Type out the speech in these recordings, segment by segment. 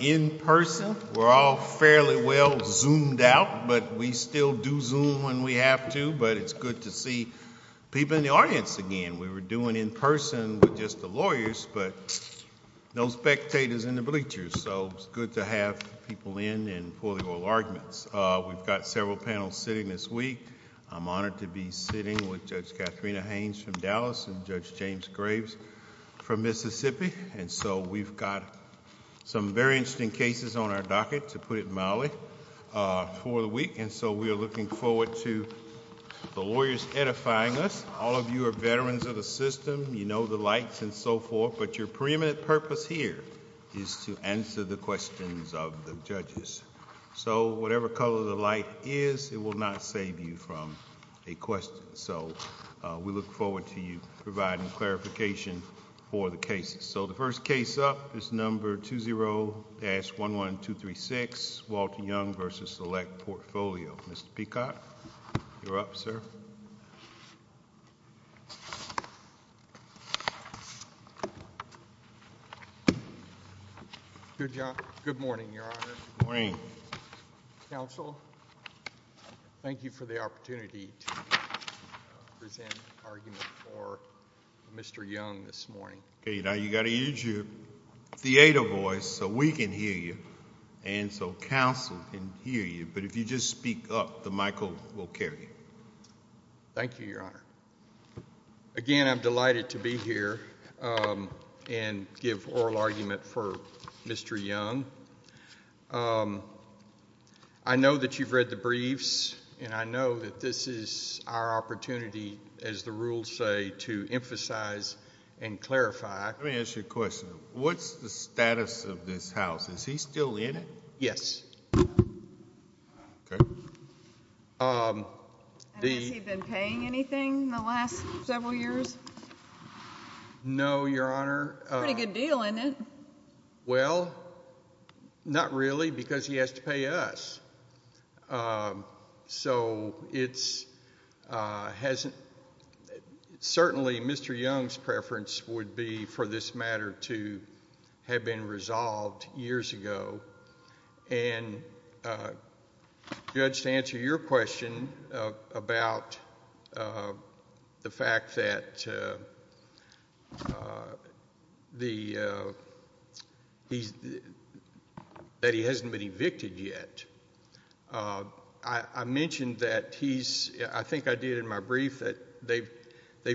In person, we're all fairly well zoomed out, but we still do zoom when we have to, but it's good to see people in the audience again. We were doing in person with just the lawyers, but no spectators in the bleachers, so it's good to have people in and for the oral arguments. We've got several panels sitting this week. I'm honored to be sitting with Judge Katharina Haynes from Dallas and Judge James Graves from Mississippi, and so we've got some very interesting cases on our docket, to put it mildly, for the week, and so we are looking forward to the lawyers edifying us. All of you are veterans of the system. You know the lights and so forth, but your preeminent purpose here is to answer the questions of the judges, so whatever color the light is, it will not save you from a question, so we look forward to you providing clarification for the cases. So the first case up is number 20-11236, Walter Young v. Select Portfolio. Mr. Peacock, you're up, sir. Good morning, Your Honor. Good morning. Counsel, thank you for the opportunity to present argument for Mr. Young this morning. Okay, now you've got to use your theater voice so we can hear you and so counsel can hear you, but if you just speak up, the mic will carry you. Thank you, Your Honor. Again, I'm delighted to be here and give oral argument for Mr. Young. I know that you've read the briefs, and I know that this is our opportunity, as the rules say, to emphasize and clarify. Let me ask you a question. What's the status of this house? Is he still in it? Yes. Okay. And has he been paying anything in the last several years? No, Your Honor. Pretty good deal, isn't it? Well, not really, because he has to pay us. So certainly Mr. Young's preference would be for this matter to have been resolved years ago. And Judge, to answer your question about the fact that he hasn't been evicted yet, I mentioned that he's... I think I did in my brief that they've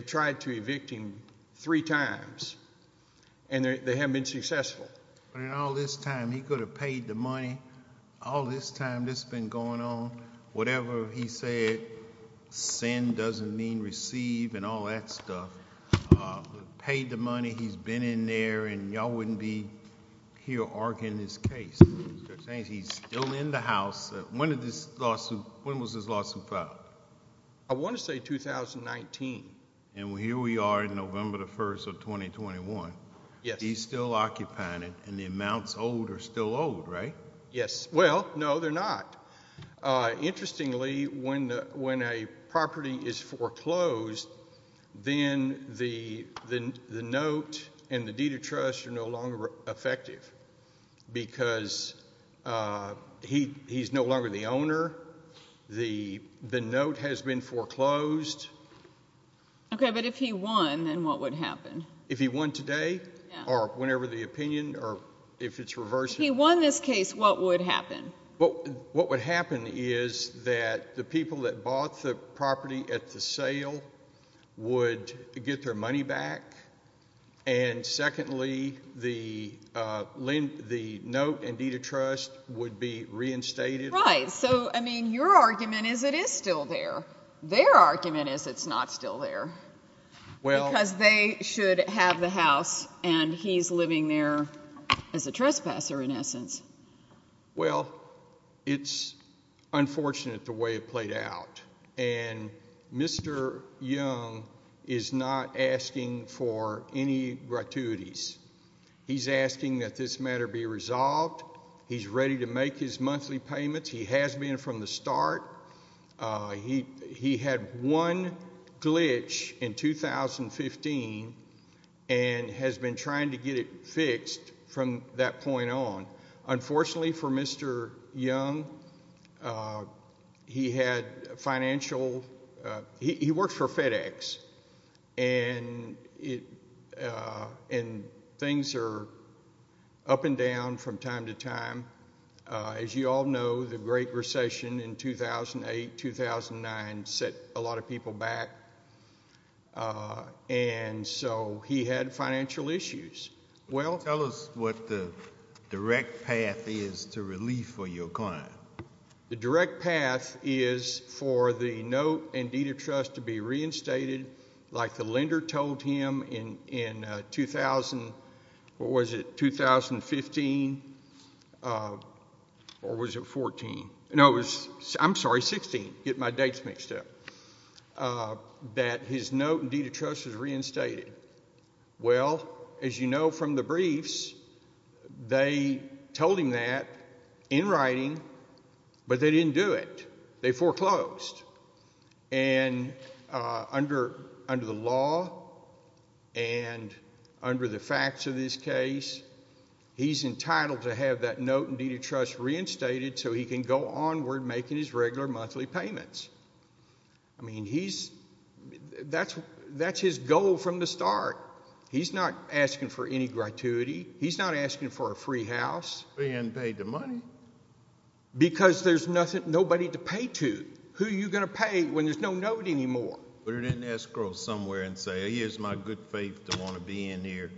tried to evict him three times, and they haven't been successful. But in all this time, he could have paid the money. All this time, this has been going on. Whatever he said, send doesn't mean receive, and all that stuff. Paid the money, he's been in there, and y'all wouldn't be here arguing this case. He's still in the house. When was this lawsuit filed? I want to say 2019. And here we are in November 1st of 2021. He's still occupying it, and the amounts owed are still owed, right? Yes. Well, no, they're not. Interestingly, when a property is foreclosed, then the note and the deed of trust are no longer effective, because he's no longer the owner. The note has been foreclosed. Okay, but if he won, then what would happen? If he won today, or whenever the opinion, or if it's reversed? If he won this case, what would happen? What would happen is that the people that bought the property at the sale would get their money back, and secondly, the note and deed of trust would be reinstated. Right, so, I mean, your argument is it is still there. Their argument is it's not still there. Because they should have the house, and he's living there as a trespasser, in essence. Well, it's unfortunate the way it played out. And Mr. Young is not asking for any gratuities. He's asking that this matter be resolved. He's ready to make his monthly payments. He has been from the start. He had one glitch in 2015, and has been trying to get it fixed from that point on. Unfortunately for Mr. Young, he had financial, he worked for FedEx, and things are up and down from time to time. As you all know, the Great Recession in 2008-2009 set a lot of people back, and so he had financial issues. Tell us what the direct path is to relief for your client. The direct path is for the note and deed of trust to be reinstated, like the lender told him in 2000, what was it, 2015, or was it 14? No, it was, I'm sorry, 16. Getting my dates mixed up. That his note and deed of trust was reinstated. Well, as you know from the briefs, they told him that in writing, but they didn't do it. They foreclosed. Under the law, and under the facts of this case, he's entitled to have that note and deed of trust reinstated so he can go onward making his regular monthly payments. I mean, that's his goal from the start. He's not asking for any gratuity. He's not asking for a free house. Being paid the money. Because there's nobody to pay to. Who are you going to pay when there's no note anymore? Put it in escrow somewhere and say, here's my good faith to want to be in here.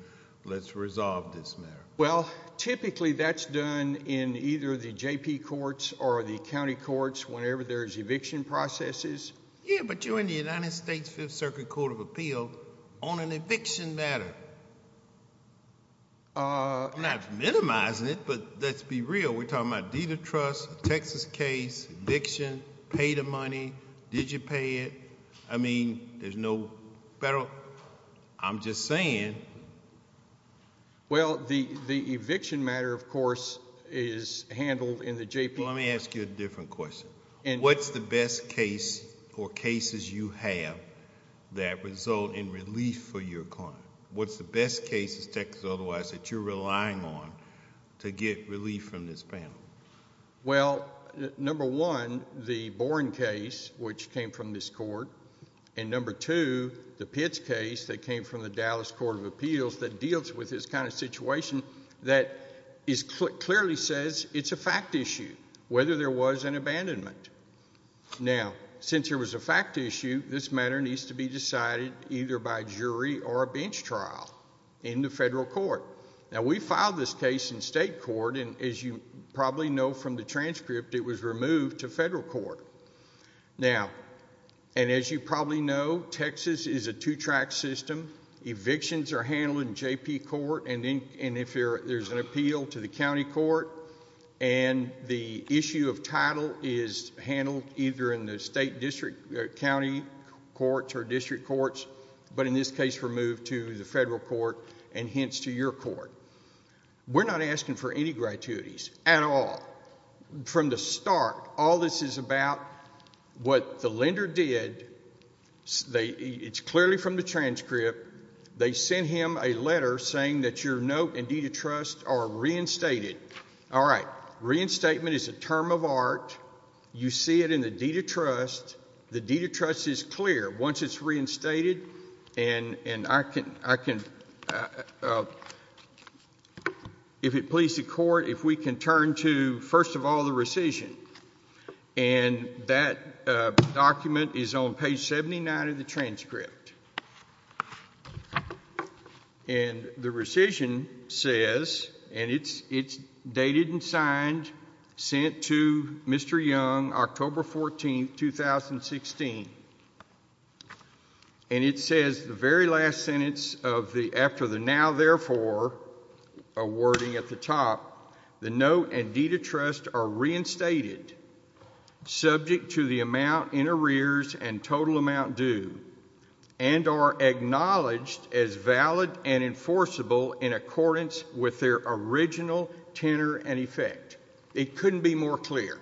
Let's resolve this matter. Well, typically that's done in either the JP courts or the county courts whenever there's eviction processes. Yeah, but you're in the United States Fifth Circuit Court of Appeal on an eviction matter. I'm not minimizing it, but let's be real. We're talking about deed of trust, Texas case, eviction, pay the money. Did you pay it? I mean, there's no federal... I'm just saying. Well, the eviction matter, of course, is handled in the JP... Well, let me ask you a different question. What's the best case or cases you have that result in relief for your client? What's the best case in Texas, otherwise, that you're relying on to get relief from this panel? Well, number one, the Boren case, which came from this court, and number two, the Pitts case that came from the Dallas Court of Appeals that deals with this kind of situation that clearly says it's a fact issue, whether there was an abandonment. Now, since there was a fact issue, this matter needs to be decided either by jury or a bench trial in the federal court. Now, we filed this case in state court, and as you probably know from the transcript, it was removed to federal court. Now, and as you probably know, Texas is a two-track system. Evictions are handled in JP court, and if there's an appeal to the county court, and the issue of title is handled either in the state district county courts or district courts, but in this case, removed to the federal court and hence to your court. We're not asking for any gratuities at all. From the start, all this is about what the lender did. It's clearly from the transcript. They sent him a letter saying that your note and deed of trust are reinstated. All right. Reinstatement is a term of art. You see it in the deed of trust. The deed of trust is clear once it's reinstated, and I can, if it pleases the court, if we can turn to, first of all, the rescission. And that document is on page 79 of the transcript. And the rescission says, and it's dated and signed, sent to Mr. Young, October 14, 2016. And it says the very last sentence of the, after the now therefore, a wording at the top, the note and deed of trust are reinstated, subject to the amount in arrears and total amount due, and are acknowledged as valid and enforceable in accordance with their original tenor and effect. It couldn't be more clear.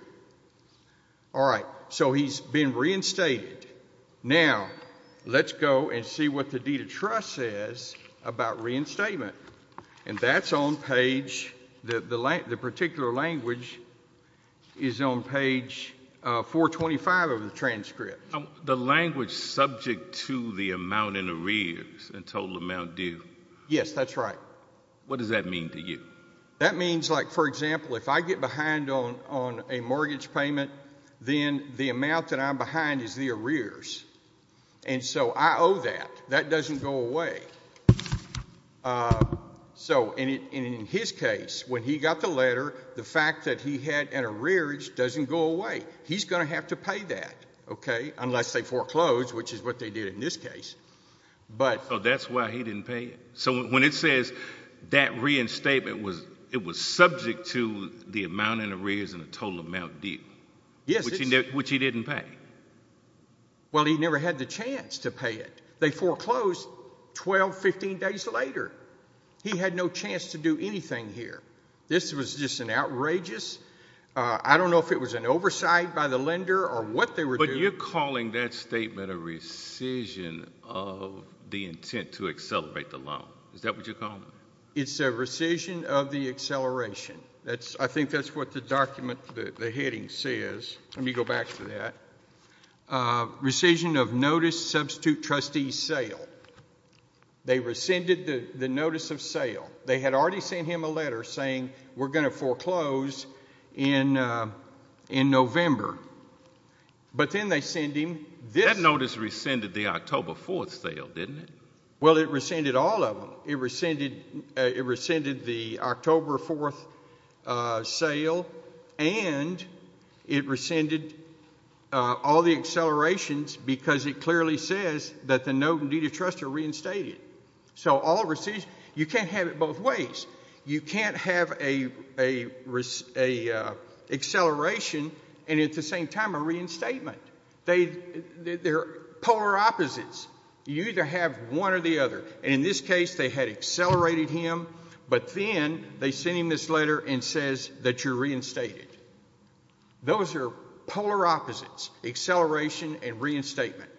All right. So he's been reinstated. Now let's go and see what the deed of trust says about reinstatement. And that's on page, the particular language is on page 425 of the transcript. The language subject to the amount in arrears and total amount due. Yes, that's right. What does that mean to you? That means like, for example, if I get behind on a mortgage payment, then the amount that I'm behind is the arrears. And so I owe that. That doesn't go away. So in his case, when he got the letter, the fact that he had an arrears doesn't go away. He's going to have to pay that, okay, unless they foreclose, which is what they did in this case. Oh, that's why he didn't pay it? So when it says that reinstatement, it was subject to the amount in arrears and the total amount due, which he didn't pay? Well, he never had the chance to pay it. They foreclosed 12, 15 days later. He had no chance to do anything here. This was just an outrageous, I don't know if it was an oversight by the lender or what they were doing. So you're calling that statement a rescission of the intent to accelerate the loan. Is that what you're calling it? It's a rescission of the acceleration. I think that's what the document, the heading says. Let me go back to that. Rescission of notice substitute trustee sale. They rescinded the notice of sale. They had already sent him a letter saying we're going to foreclose in November. But then they send him this. That notice rescinded the October 4th sale, didn't it? Well, it rescinded all of them. It rescinded the October 4th sale and it rescinded all the accelerations because it clearly says that the note in need of trust are reinstated. So all rescissions, you can't have it both ways. You can't have an acceleration and at the same time a reinstatement. They're polar opposites. You either have one or the other. And in this case, they had accelerated him. But then they send him this letter and says that you're reinstated. Those are polar opposites, acceleration and reinstatement.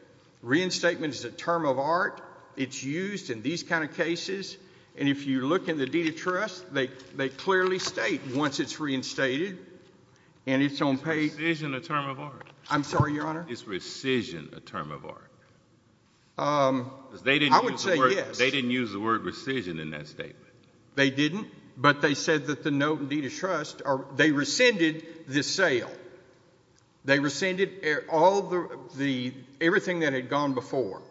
Reinstatement is a term of art. It's used in these kind of cases. And if you look in the deed of trust, they clearly state once it's reinstated and it's on page... Is rescission a term of art? I'm sorry, Your Honor? Is rescission a term of art? I would say yes. They didn't use the word rescission in that statement. They didn't, but they said that the note in deed of trust... They rescinded this sale. They rescinded everything that had gone before.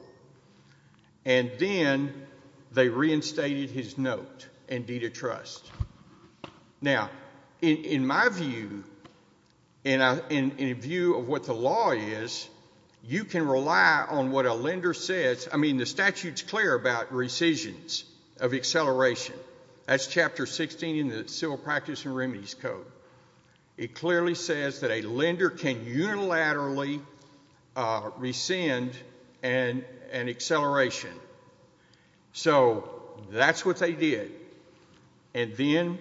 And then they reinstated his note in deed of trust. Now, in my view, in a view of what the law is, you can rely on what a lender says. I mean, the statute's clear about rescissions of acceleration. That's Chapter 16 in the Civil Practice and Remedies Code. It clearly says that a lender can unilaterally rescind an acceleration. So that's what they did. And then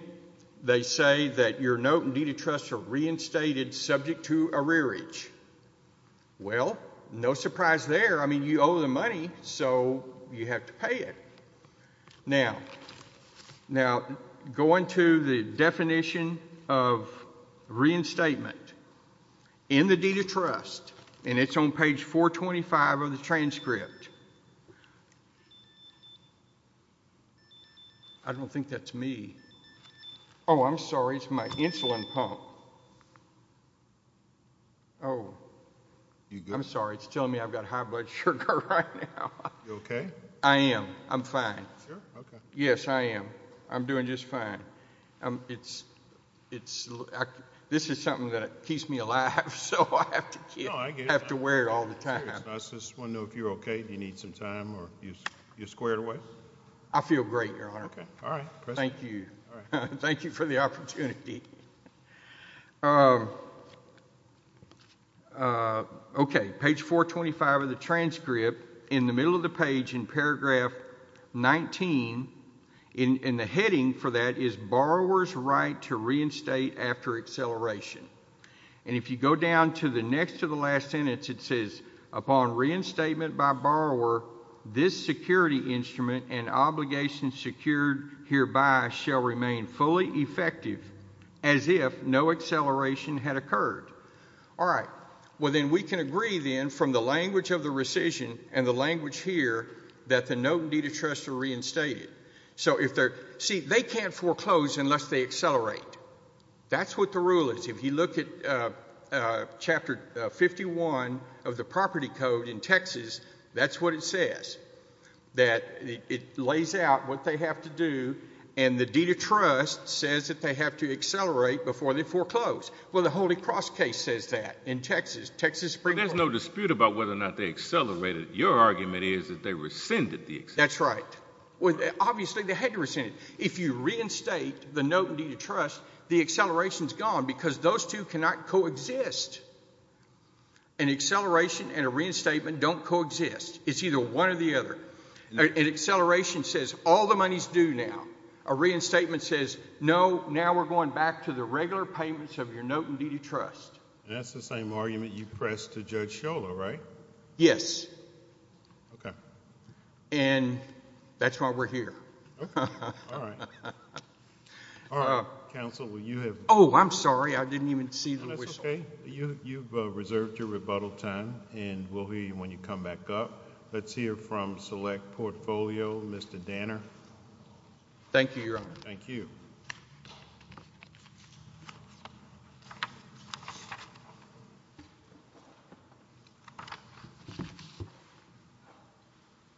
they say that your note in deed of trust are reinstated subject to a rearage. Well, no surprise there. I mean, you owe them money, so you have to pay it. Now... Now, going to the definition of reinstatement in the deed of trust, and it's on page 425 of the transcript... I don't think that's me. Oh, I'm sorry, it's my insulin pump. Oh. I'm sorry, it's telling me I've got high blood sugar right now. You okay? I am, I'm fine. Yes, I am. I'm doing just fine. It's... This is something that keeps me alive, so I have to wear it all the time. I just want to know if you're okay. Do you need some time, or you're squared away? I feel great, Your Honor. Okay, all right. Thank you. Thank you for the opportunity. Okay, page 425 of the transcript. In the middle of the page, in paragraph 19, in the heading for that is borrower's right to reinstate after acceleration. And if you go down to the next to the last sentence, it says, Upon reinstatement by borrower, this security instrument and obligations secured hereby shall remain fully effective as if no acceleration had occurred. All right. Well, then we can agree, then, from the language of the rescission and the language here that the note and deed of trust are reinstated. So if they're... See, they can't foreclose unless they accelerate. That's what the rule is. If you look at chapter 51 of the property code in Texas, that's what it says, that it lays out what they have to do, and the deed of trust says that they have to accelerate before they foreclose. Well, the Holy Cross case says that in Texas. There's no dispute about whether or not they accelerated. Your argument is that they rescinded the acceleration. That's right. Obviously, they had to rescind it. If you reinstate the note and deed of trust, the acceleration's gone because those two cannot coexist. An acceleration and a reinstatement don't coexist. It's either one or the other. An acceleration says, all the money's due now. A reinstatement says, no, now we're going back to the regular payments of your note and deed of trust. And that's the same argument you pressed to Judge Sciola, right? Yes. Okay. And that's why we're here. Okay. All right. All right. Oh, I'm sorry. I didn't even see the whistle. You've reserved your rebuttal time and we'll hear you when you come back up. Let's hear from Select Portfolio, Mr. Danner. Thank you, Your Honor. Thank you.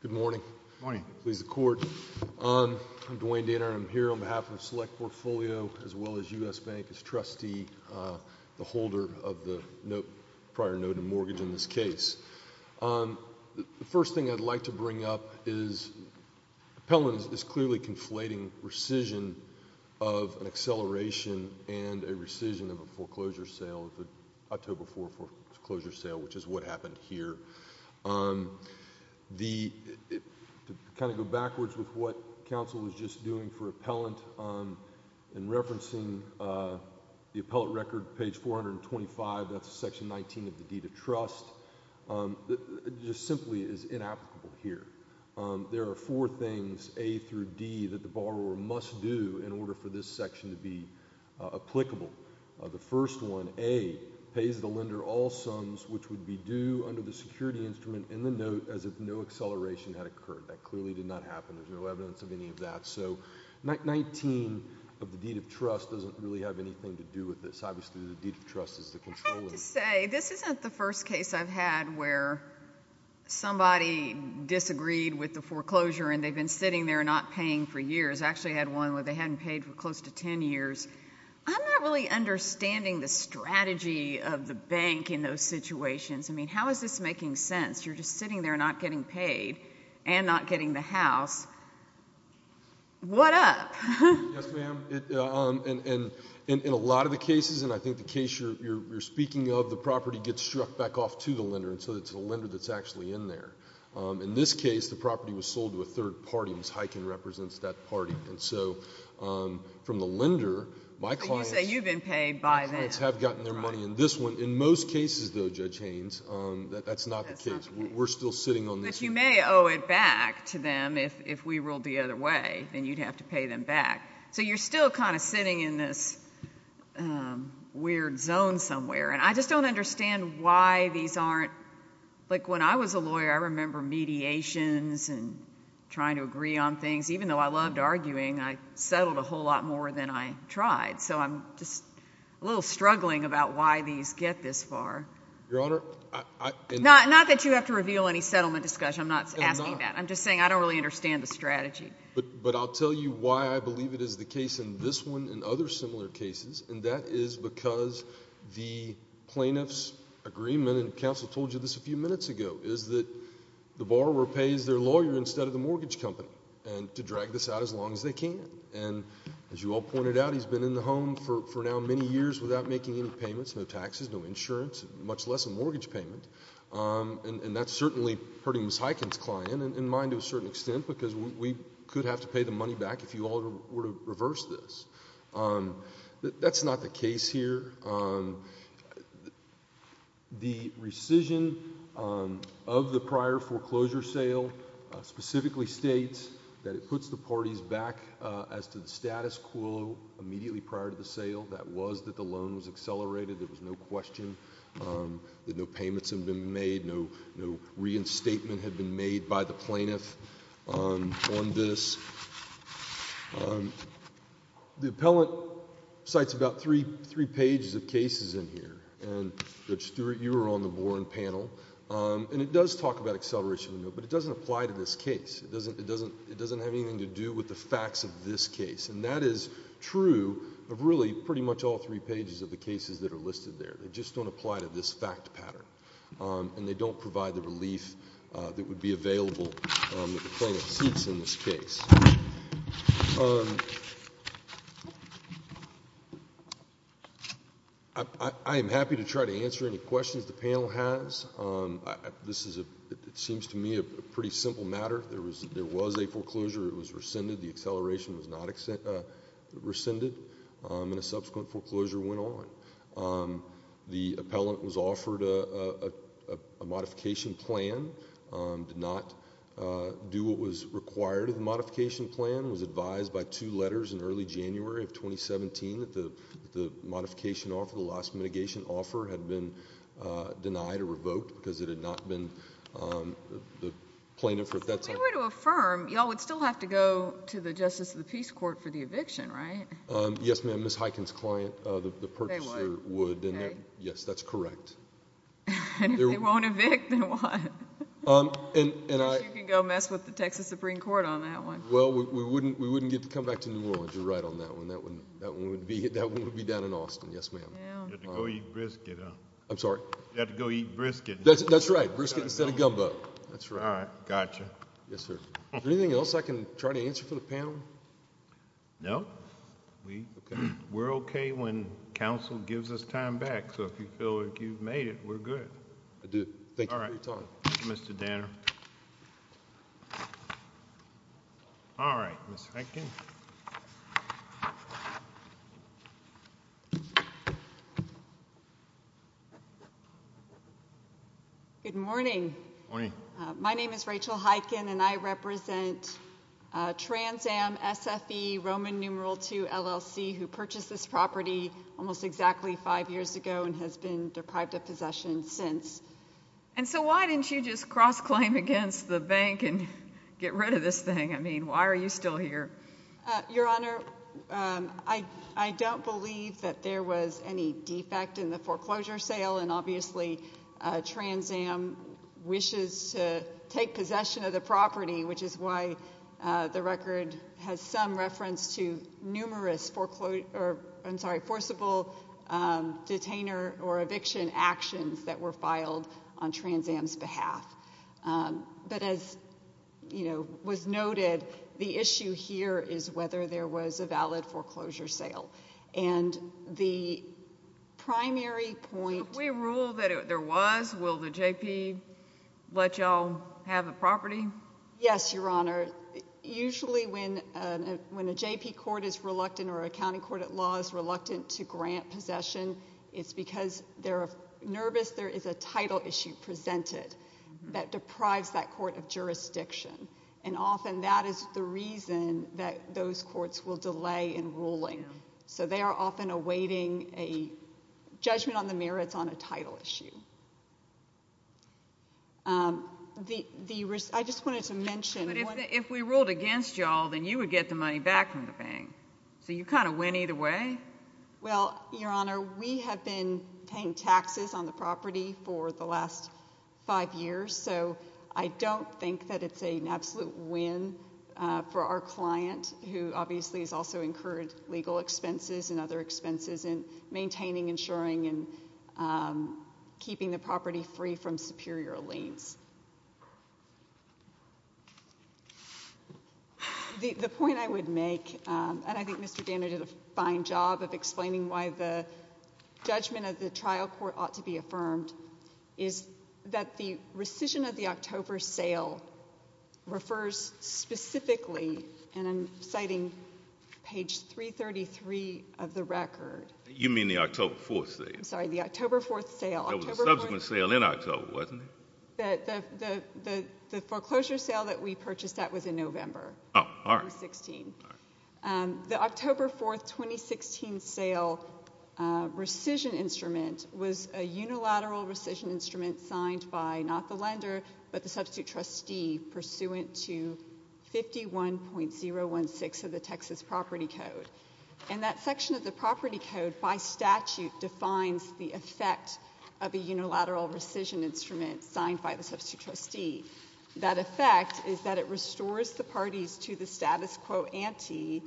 Good morning. Good morning. I'm Dwayne Danner. I'm here on behalf of Select Portfolio as well as U.S. Bank as trustee, the holder of the prior note of mortgage in this case. The first thing I'd like to bring up is appellant is clearly conflating rescission of an acceleration and a rescission of a foreclosure sale, October 4 foreclosure sale, which is what happened here. To kind of go backwards with what counsel was just doing for appellant in referencing the appellant record, page 425, that's section 19 of the deed of trust, just simply is inapplicable here. There are four things, A through D, that the borrower must do in order for this section to be applicable. The first one, A, is the lender all sums which would be due under the security instrument in the note as if no acceleration had occurred. That clearly did not happen. There's no evidence of any of that. So, 19 of the deed of trust doesn't really have anything to do with this. Obviously, the deed of trust is the controller. I have to say, this isn't the first case I've had where somebody disagreed with the foreclosure and they've been sitting there not paying for years. I actually had one where they hadn't paid for close to ten years. I'm not really understanding the strategy of the bank in those situations. I mean, how is this making sense? You're just sitting there not getting paid and not getting the house. What up? Yes, ma'am. In a lot of the cases, and I think the case you're speaking of, the property gets struck back off to the lender, so it's the lender that's actually in there. In this case, the property was sold to a third party. Ms. Heiken represents that party. From the lender, my clients have gotten their money. In most cases, though, Judge Haynes, that's not the case. We're still sitting on this. But you may owe it back to them if we ruled the other way and you'd have to pay them back. So you're still kind of sitting in this weird zone somewhere. I just don't understand why these aren't... When I was a lawyer, I remember mediations and trying to agree on things. Even though I loved arguing, I tried. So I'm just a little struggling about why these get this far. Your Honor... Not that you have to reveal any settlement discussion. I'm not asking that. I'm just saying I don't really understand the strategy. But I'll tell you why I believe it is the case in this one and other similar cases, and that is because the plaintiff's agreement, and counsel told you this a few minutes ago, is that the borrower pays their lawyer instead of the mortgage company to drag this out as long as they can. And as you all pointed out, he's been in the home for now many years without making any payments, no taxes, no insurance, much less a mortgage payment. And that's certainly hurting Ms. Hyken's client and mine to a certain extent because we could have to pay the money back if you all were to reverse this. That's not the case here. The rescission of the prior foreclosure sale specifically states that it puts the parties back as to the status quo immediately prior to the sale. That was that the loan was accelerated. There was no question that no payments had been made, no reinstatement had been made by the plaintiff on this. The appellant cites about three pages of cases in here. And Judge Stewart, you were on the Boren panel. And it does talk about acceleration, but it doesn't have anything to do with the facts of this case. And that is true of really pretty much all three pages of the cases that are listed there. They just don't apply to this fact pattern. And they don't provide the relief that would be available that the plaintiff cites in this case. I am happy to try to answer any questions the panel has. This is, it seems to me, a pretty simple matter. There was a foreclosure. It was rescinded. The acceleration was not rescinded. And a subsequent foreclosure went on. The appellant was offered a modification plan. Did not do what was required of the modification plan. Was advised by two letters in early January of 2017 that the modification offer, the last mitigation offer, had been denied or revoked because it had not been the plaintiff. If they were to affirm, y'all would still have to go to the Justice of the Peace Court for the eviction, right? Yes, ma'am. Ms. Heichen's client, the purchaser, would. Yes, that's correct. And if they won't evict, then what? Unless you can go mess with the Texas Supreme Court on that one. Well, we wouldn't get to come back to New Orleans. You're right on that one. That one would be down in Austin. Yes, ma'am. You'd have to go eat brisket, huh? Right, brisket instead of gumbo. That's right. Is there anything else I can try to answer for the panel? No. We're okay when counsel gives us time back. So if you feel like you've made it, we're good. I do. Thank you for your time. Thank you, Mr. Danner. All right, Ms. Heichen. Good morning. Good morning. My name is Rachel Heichen, and I represent TransAm SFE Roman Numeral II, LLC, who purchased this property almost exactly five years ago and has been deprived of possession since. And so why didn't you just cross-claim against the bank and get rid of this thing? I mean, why are you still here? Well, I'm here because Your Honor, I don't believe that there was any defect in the foreclosure sale, and obviously TransAm wishes to take possession of the property, which is why the record has some reference to numerous forcible detainer or eviction actions that were filed on TransAm's behalf. But as was noted, the issue here is whether there was a valid foreclosure sale. And the primary point If we rule that there was, will the JP let y'all have the property? Yes, Your Honor. Usually when a JP court is reluctant or a county court at law is reluctant to grant possession, it's because they're nervous there is a title issue presented that deprives that court of that is the reason that those courts will delay in ruling. So they are often awaiting a judgment on the merits on a title issue. I just wanted to mention But if we ruled against y'all, then you would get the money back from the bank. So you kind of win either way? Well, Your Honor, we have been paying taxes on the property for the last five years, so I don't think that it's an absolute win for our client, who obviously has also incurred legal expenses and other expenses in maintaining, insuring, and keeping the property free from superior liens. The point I would make, and I think Mr. Danner did a fine job of explaining why the judgment of the trial court ought to be affirmed, is that the October 4th sale refers specifically and I'm citing page 333 of the record You mean the October 4th sale? I'm sorry, the October 4th sale. There was a subsequent sale in October, wasn't there? The foreclosure sale that we purchased that was in November 2016. The October 4th, 2016 sale rescission instrument was a unilateral rescission instrument signed by, not the lender, but the substitute trustee, pursuant to 51.016 of the Texas property code. And that section of the property code, by statute, defines the effect of a unilateral rescission instrument signed by the substitute trustee. That effect is that it restores the parties to the status quo ante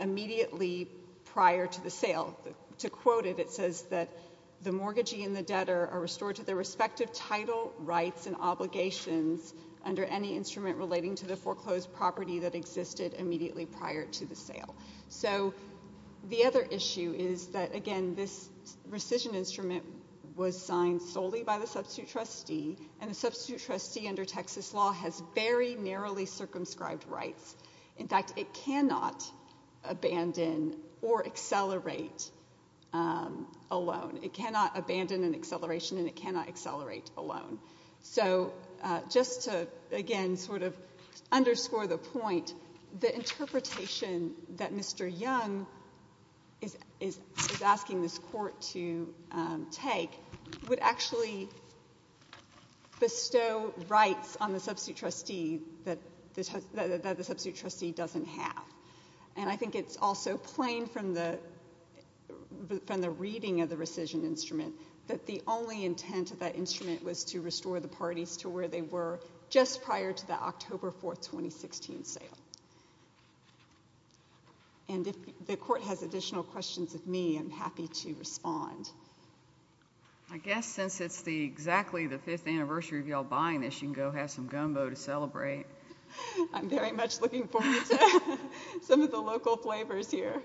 immediately prior to the sale. To quote it, it says that the mortgagee and the debtor are restored to their respective title, rights and obligations under any instrument relating to the foreclosed property that existed immediately prior to the sale. So the other issue is that, again, this rescission instrument was signed solely by the substitute trustee and the substitute trustee under Texas law has very narrowly circumscribed rights. In fact, it cannot abandon or accelerate alone. It cannot abandon an acceleration and it cannot accelerate alone. So, just to, again, sort of underscore the point, the interpretation that Mr. Young is asking this court to take would actually bestow rights on the substitute trustee that the substitute trustee doesn't have. And I think it's also plain from the reading of the rescission instrument that the only intent of that instrument was to restore the parties to where they were just prior to the October 4, 2016 sale. And if the court has additional questions of me, I'm happy to respond. I guess since it's the, exactly the fifth anniversary of y'all buying this, you can go have some gumbo to celebrate. I'm very much looking forward to some of the local flavors here.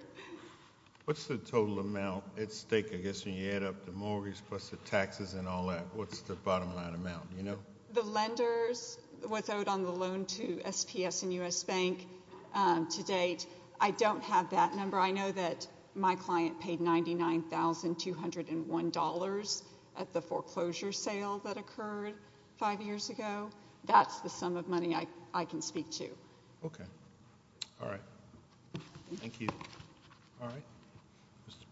What's the total amount at stake, I guess, when you add up the mortgage plus the taxes and all that? What's the bottom line amount? The lenders, what's owed on the loan to SPS and U.S. Bank to date, I don't have that number. I know that my client paid $99,201 at the foreclosure sale that occurred five years ago. That's the sum of money I can speak to. Okay. Thank you. Mr.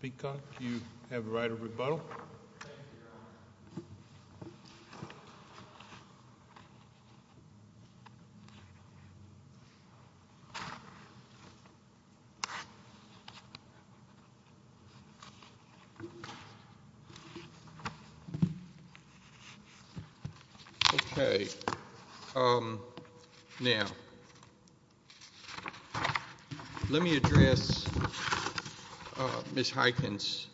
Peacock, you have the right of rebuttal. Okay. Okay. Now, let me address Ms. Heiken's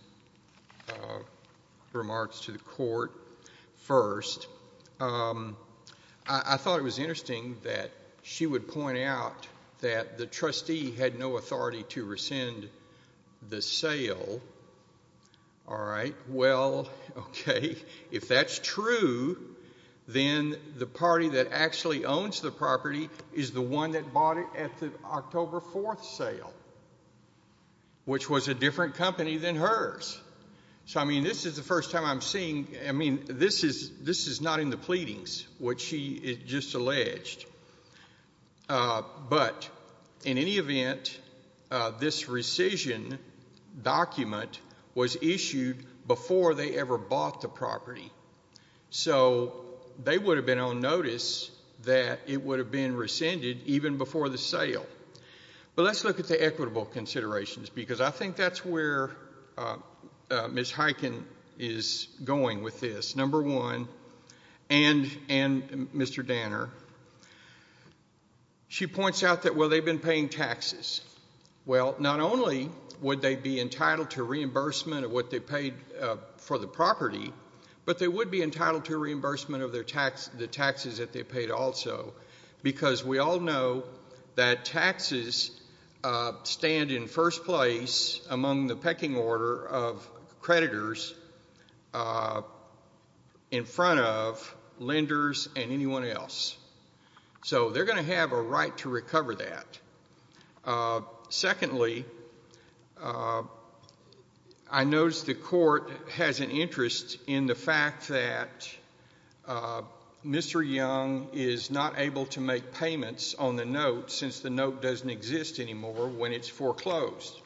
remarks to the court first. I thought it was interesting that she would point out that the trustee had no authority to rescind the sale All right. Well, okay. If that's true, then the party that actually owns the property is the one that bought it at the October 4th sale, which was a different company than hers. So, I mean, this is the first time I'm seeing I mean, this is not in the pleadings, which she just alleged. But, in any event, this rescission document was issued before they ever bought the property. So, they would have been on notice that it would have been rescinded even before the sale. But let's look at the equitable considerations, because I think that's where Ms. Heiken is going with this. Number one, and Mr. Danner, she points out that, well, they've been paying taxes. Well, not only would they be entitled to reimbursement of what they paid for the property, but they would be entitled to reimbursement of the taxes that they paid also, because we all know that taxes stand in first place among the pecking order of creditors in front of lenders and anyone else. So, they're going to have a right to recover that. Secondly, I noticed the court has an interest in the fact that Mr. Young is not able to make payments on the note, since the note doesn't exist anymore when it's foreclosed.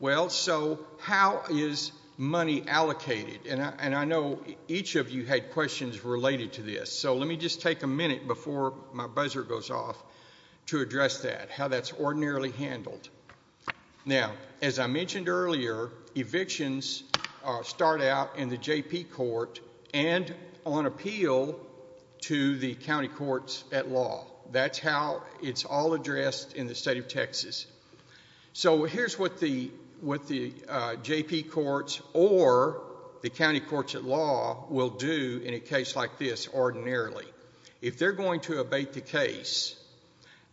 Well, so, how is money allocated? And I know each of you had questions related to this, so let me just take a minute before my buzzer goes off to address that, how that's ordinarily handled. Now, as I mentioned earlier, evictions start out in the JP court and on appeal to the county courts at law. That's how it's all addressed in the state of Texas. So, here's what the JP courts or the county courts at law will do in a case like this ordinarily. If they're going to abate the case,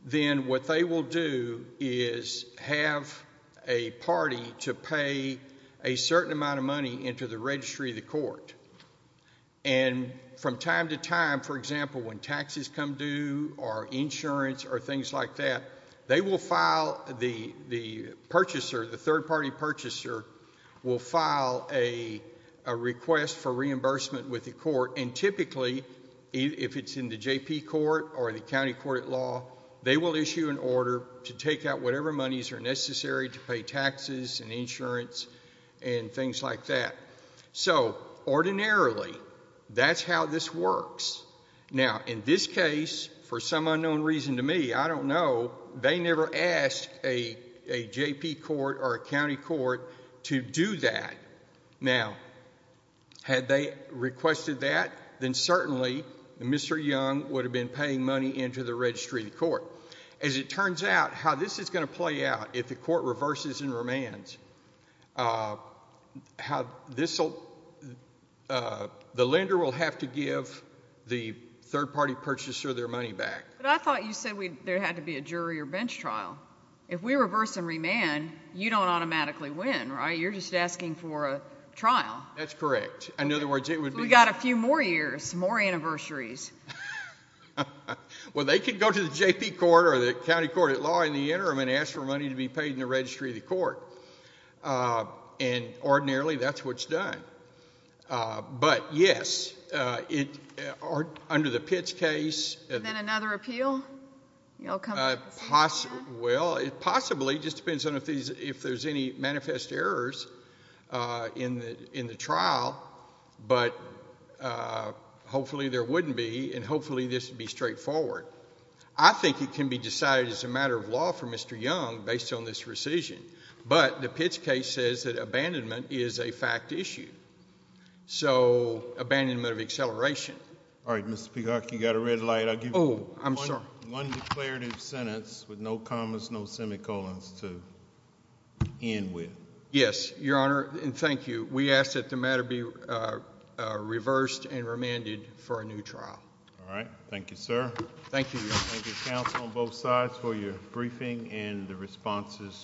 then what they will do is have a party to pay a certain amount of money into the registry of the court. And from time to time, for example, when taxes come due or insurance or things like that, they will file the purchaser, the third party purchaser will file a request for reimbursement with the court and typically, if it's in the JP court or the county court at law, they will issue an order to take out whatever monies are necessary to pay taxes and insurance and things like that. So, ordinarily, that's how this works. Now, in this case, for some unknown reason to me, I don't know, they never ask a JP court or a county court to do that. Now, had they requested that, then certainly, Mr. Young would have been paying money into the registry of the court. As it turns out, how this is going to play out if the court reverses and remands, how this will, the lender will have to give the third party purchaser their money back. But I thought you said there had to be a jury or bench trial. If we reverse and remand, you don't automatically win, right? You're just asking for a trial. That's correct. In other words, it would be... We've got a few more years, more anniversaries. Well, they could go to the JP court or the county court at law in the interim and ask for money to be paid in the registry of the court. And ordinarily, that's what's done. But, yes, under the Pitts case... Then another appeal? Possibly. Well, possibly, just depends on if there's any manifest errors in the trial. But hopefully, there wouldn't be. And hopefully, this would be straightforward. I think it can be decided as a matter of law for Mr. Young based on this rescission. But the Pitts case says that abandonment is a fact issue. So, abandonment of acceleration. All right, Mr. Peacock, you've got a red light. I'll give you one declarative sentence with no commas, no semicolons to end with. Yes, Your Honor. And thank you. We ask that the matter be reversed and remanded for a new trial. All right. Thank you, sir. Thank you. Thank you, counsel, on both sides for your briefing and the responses.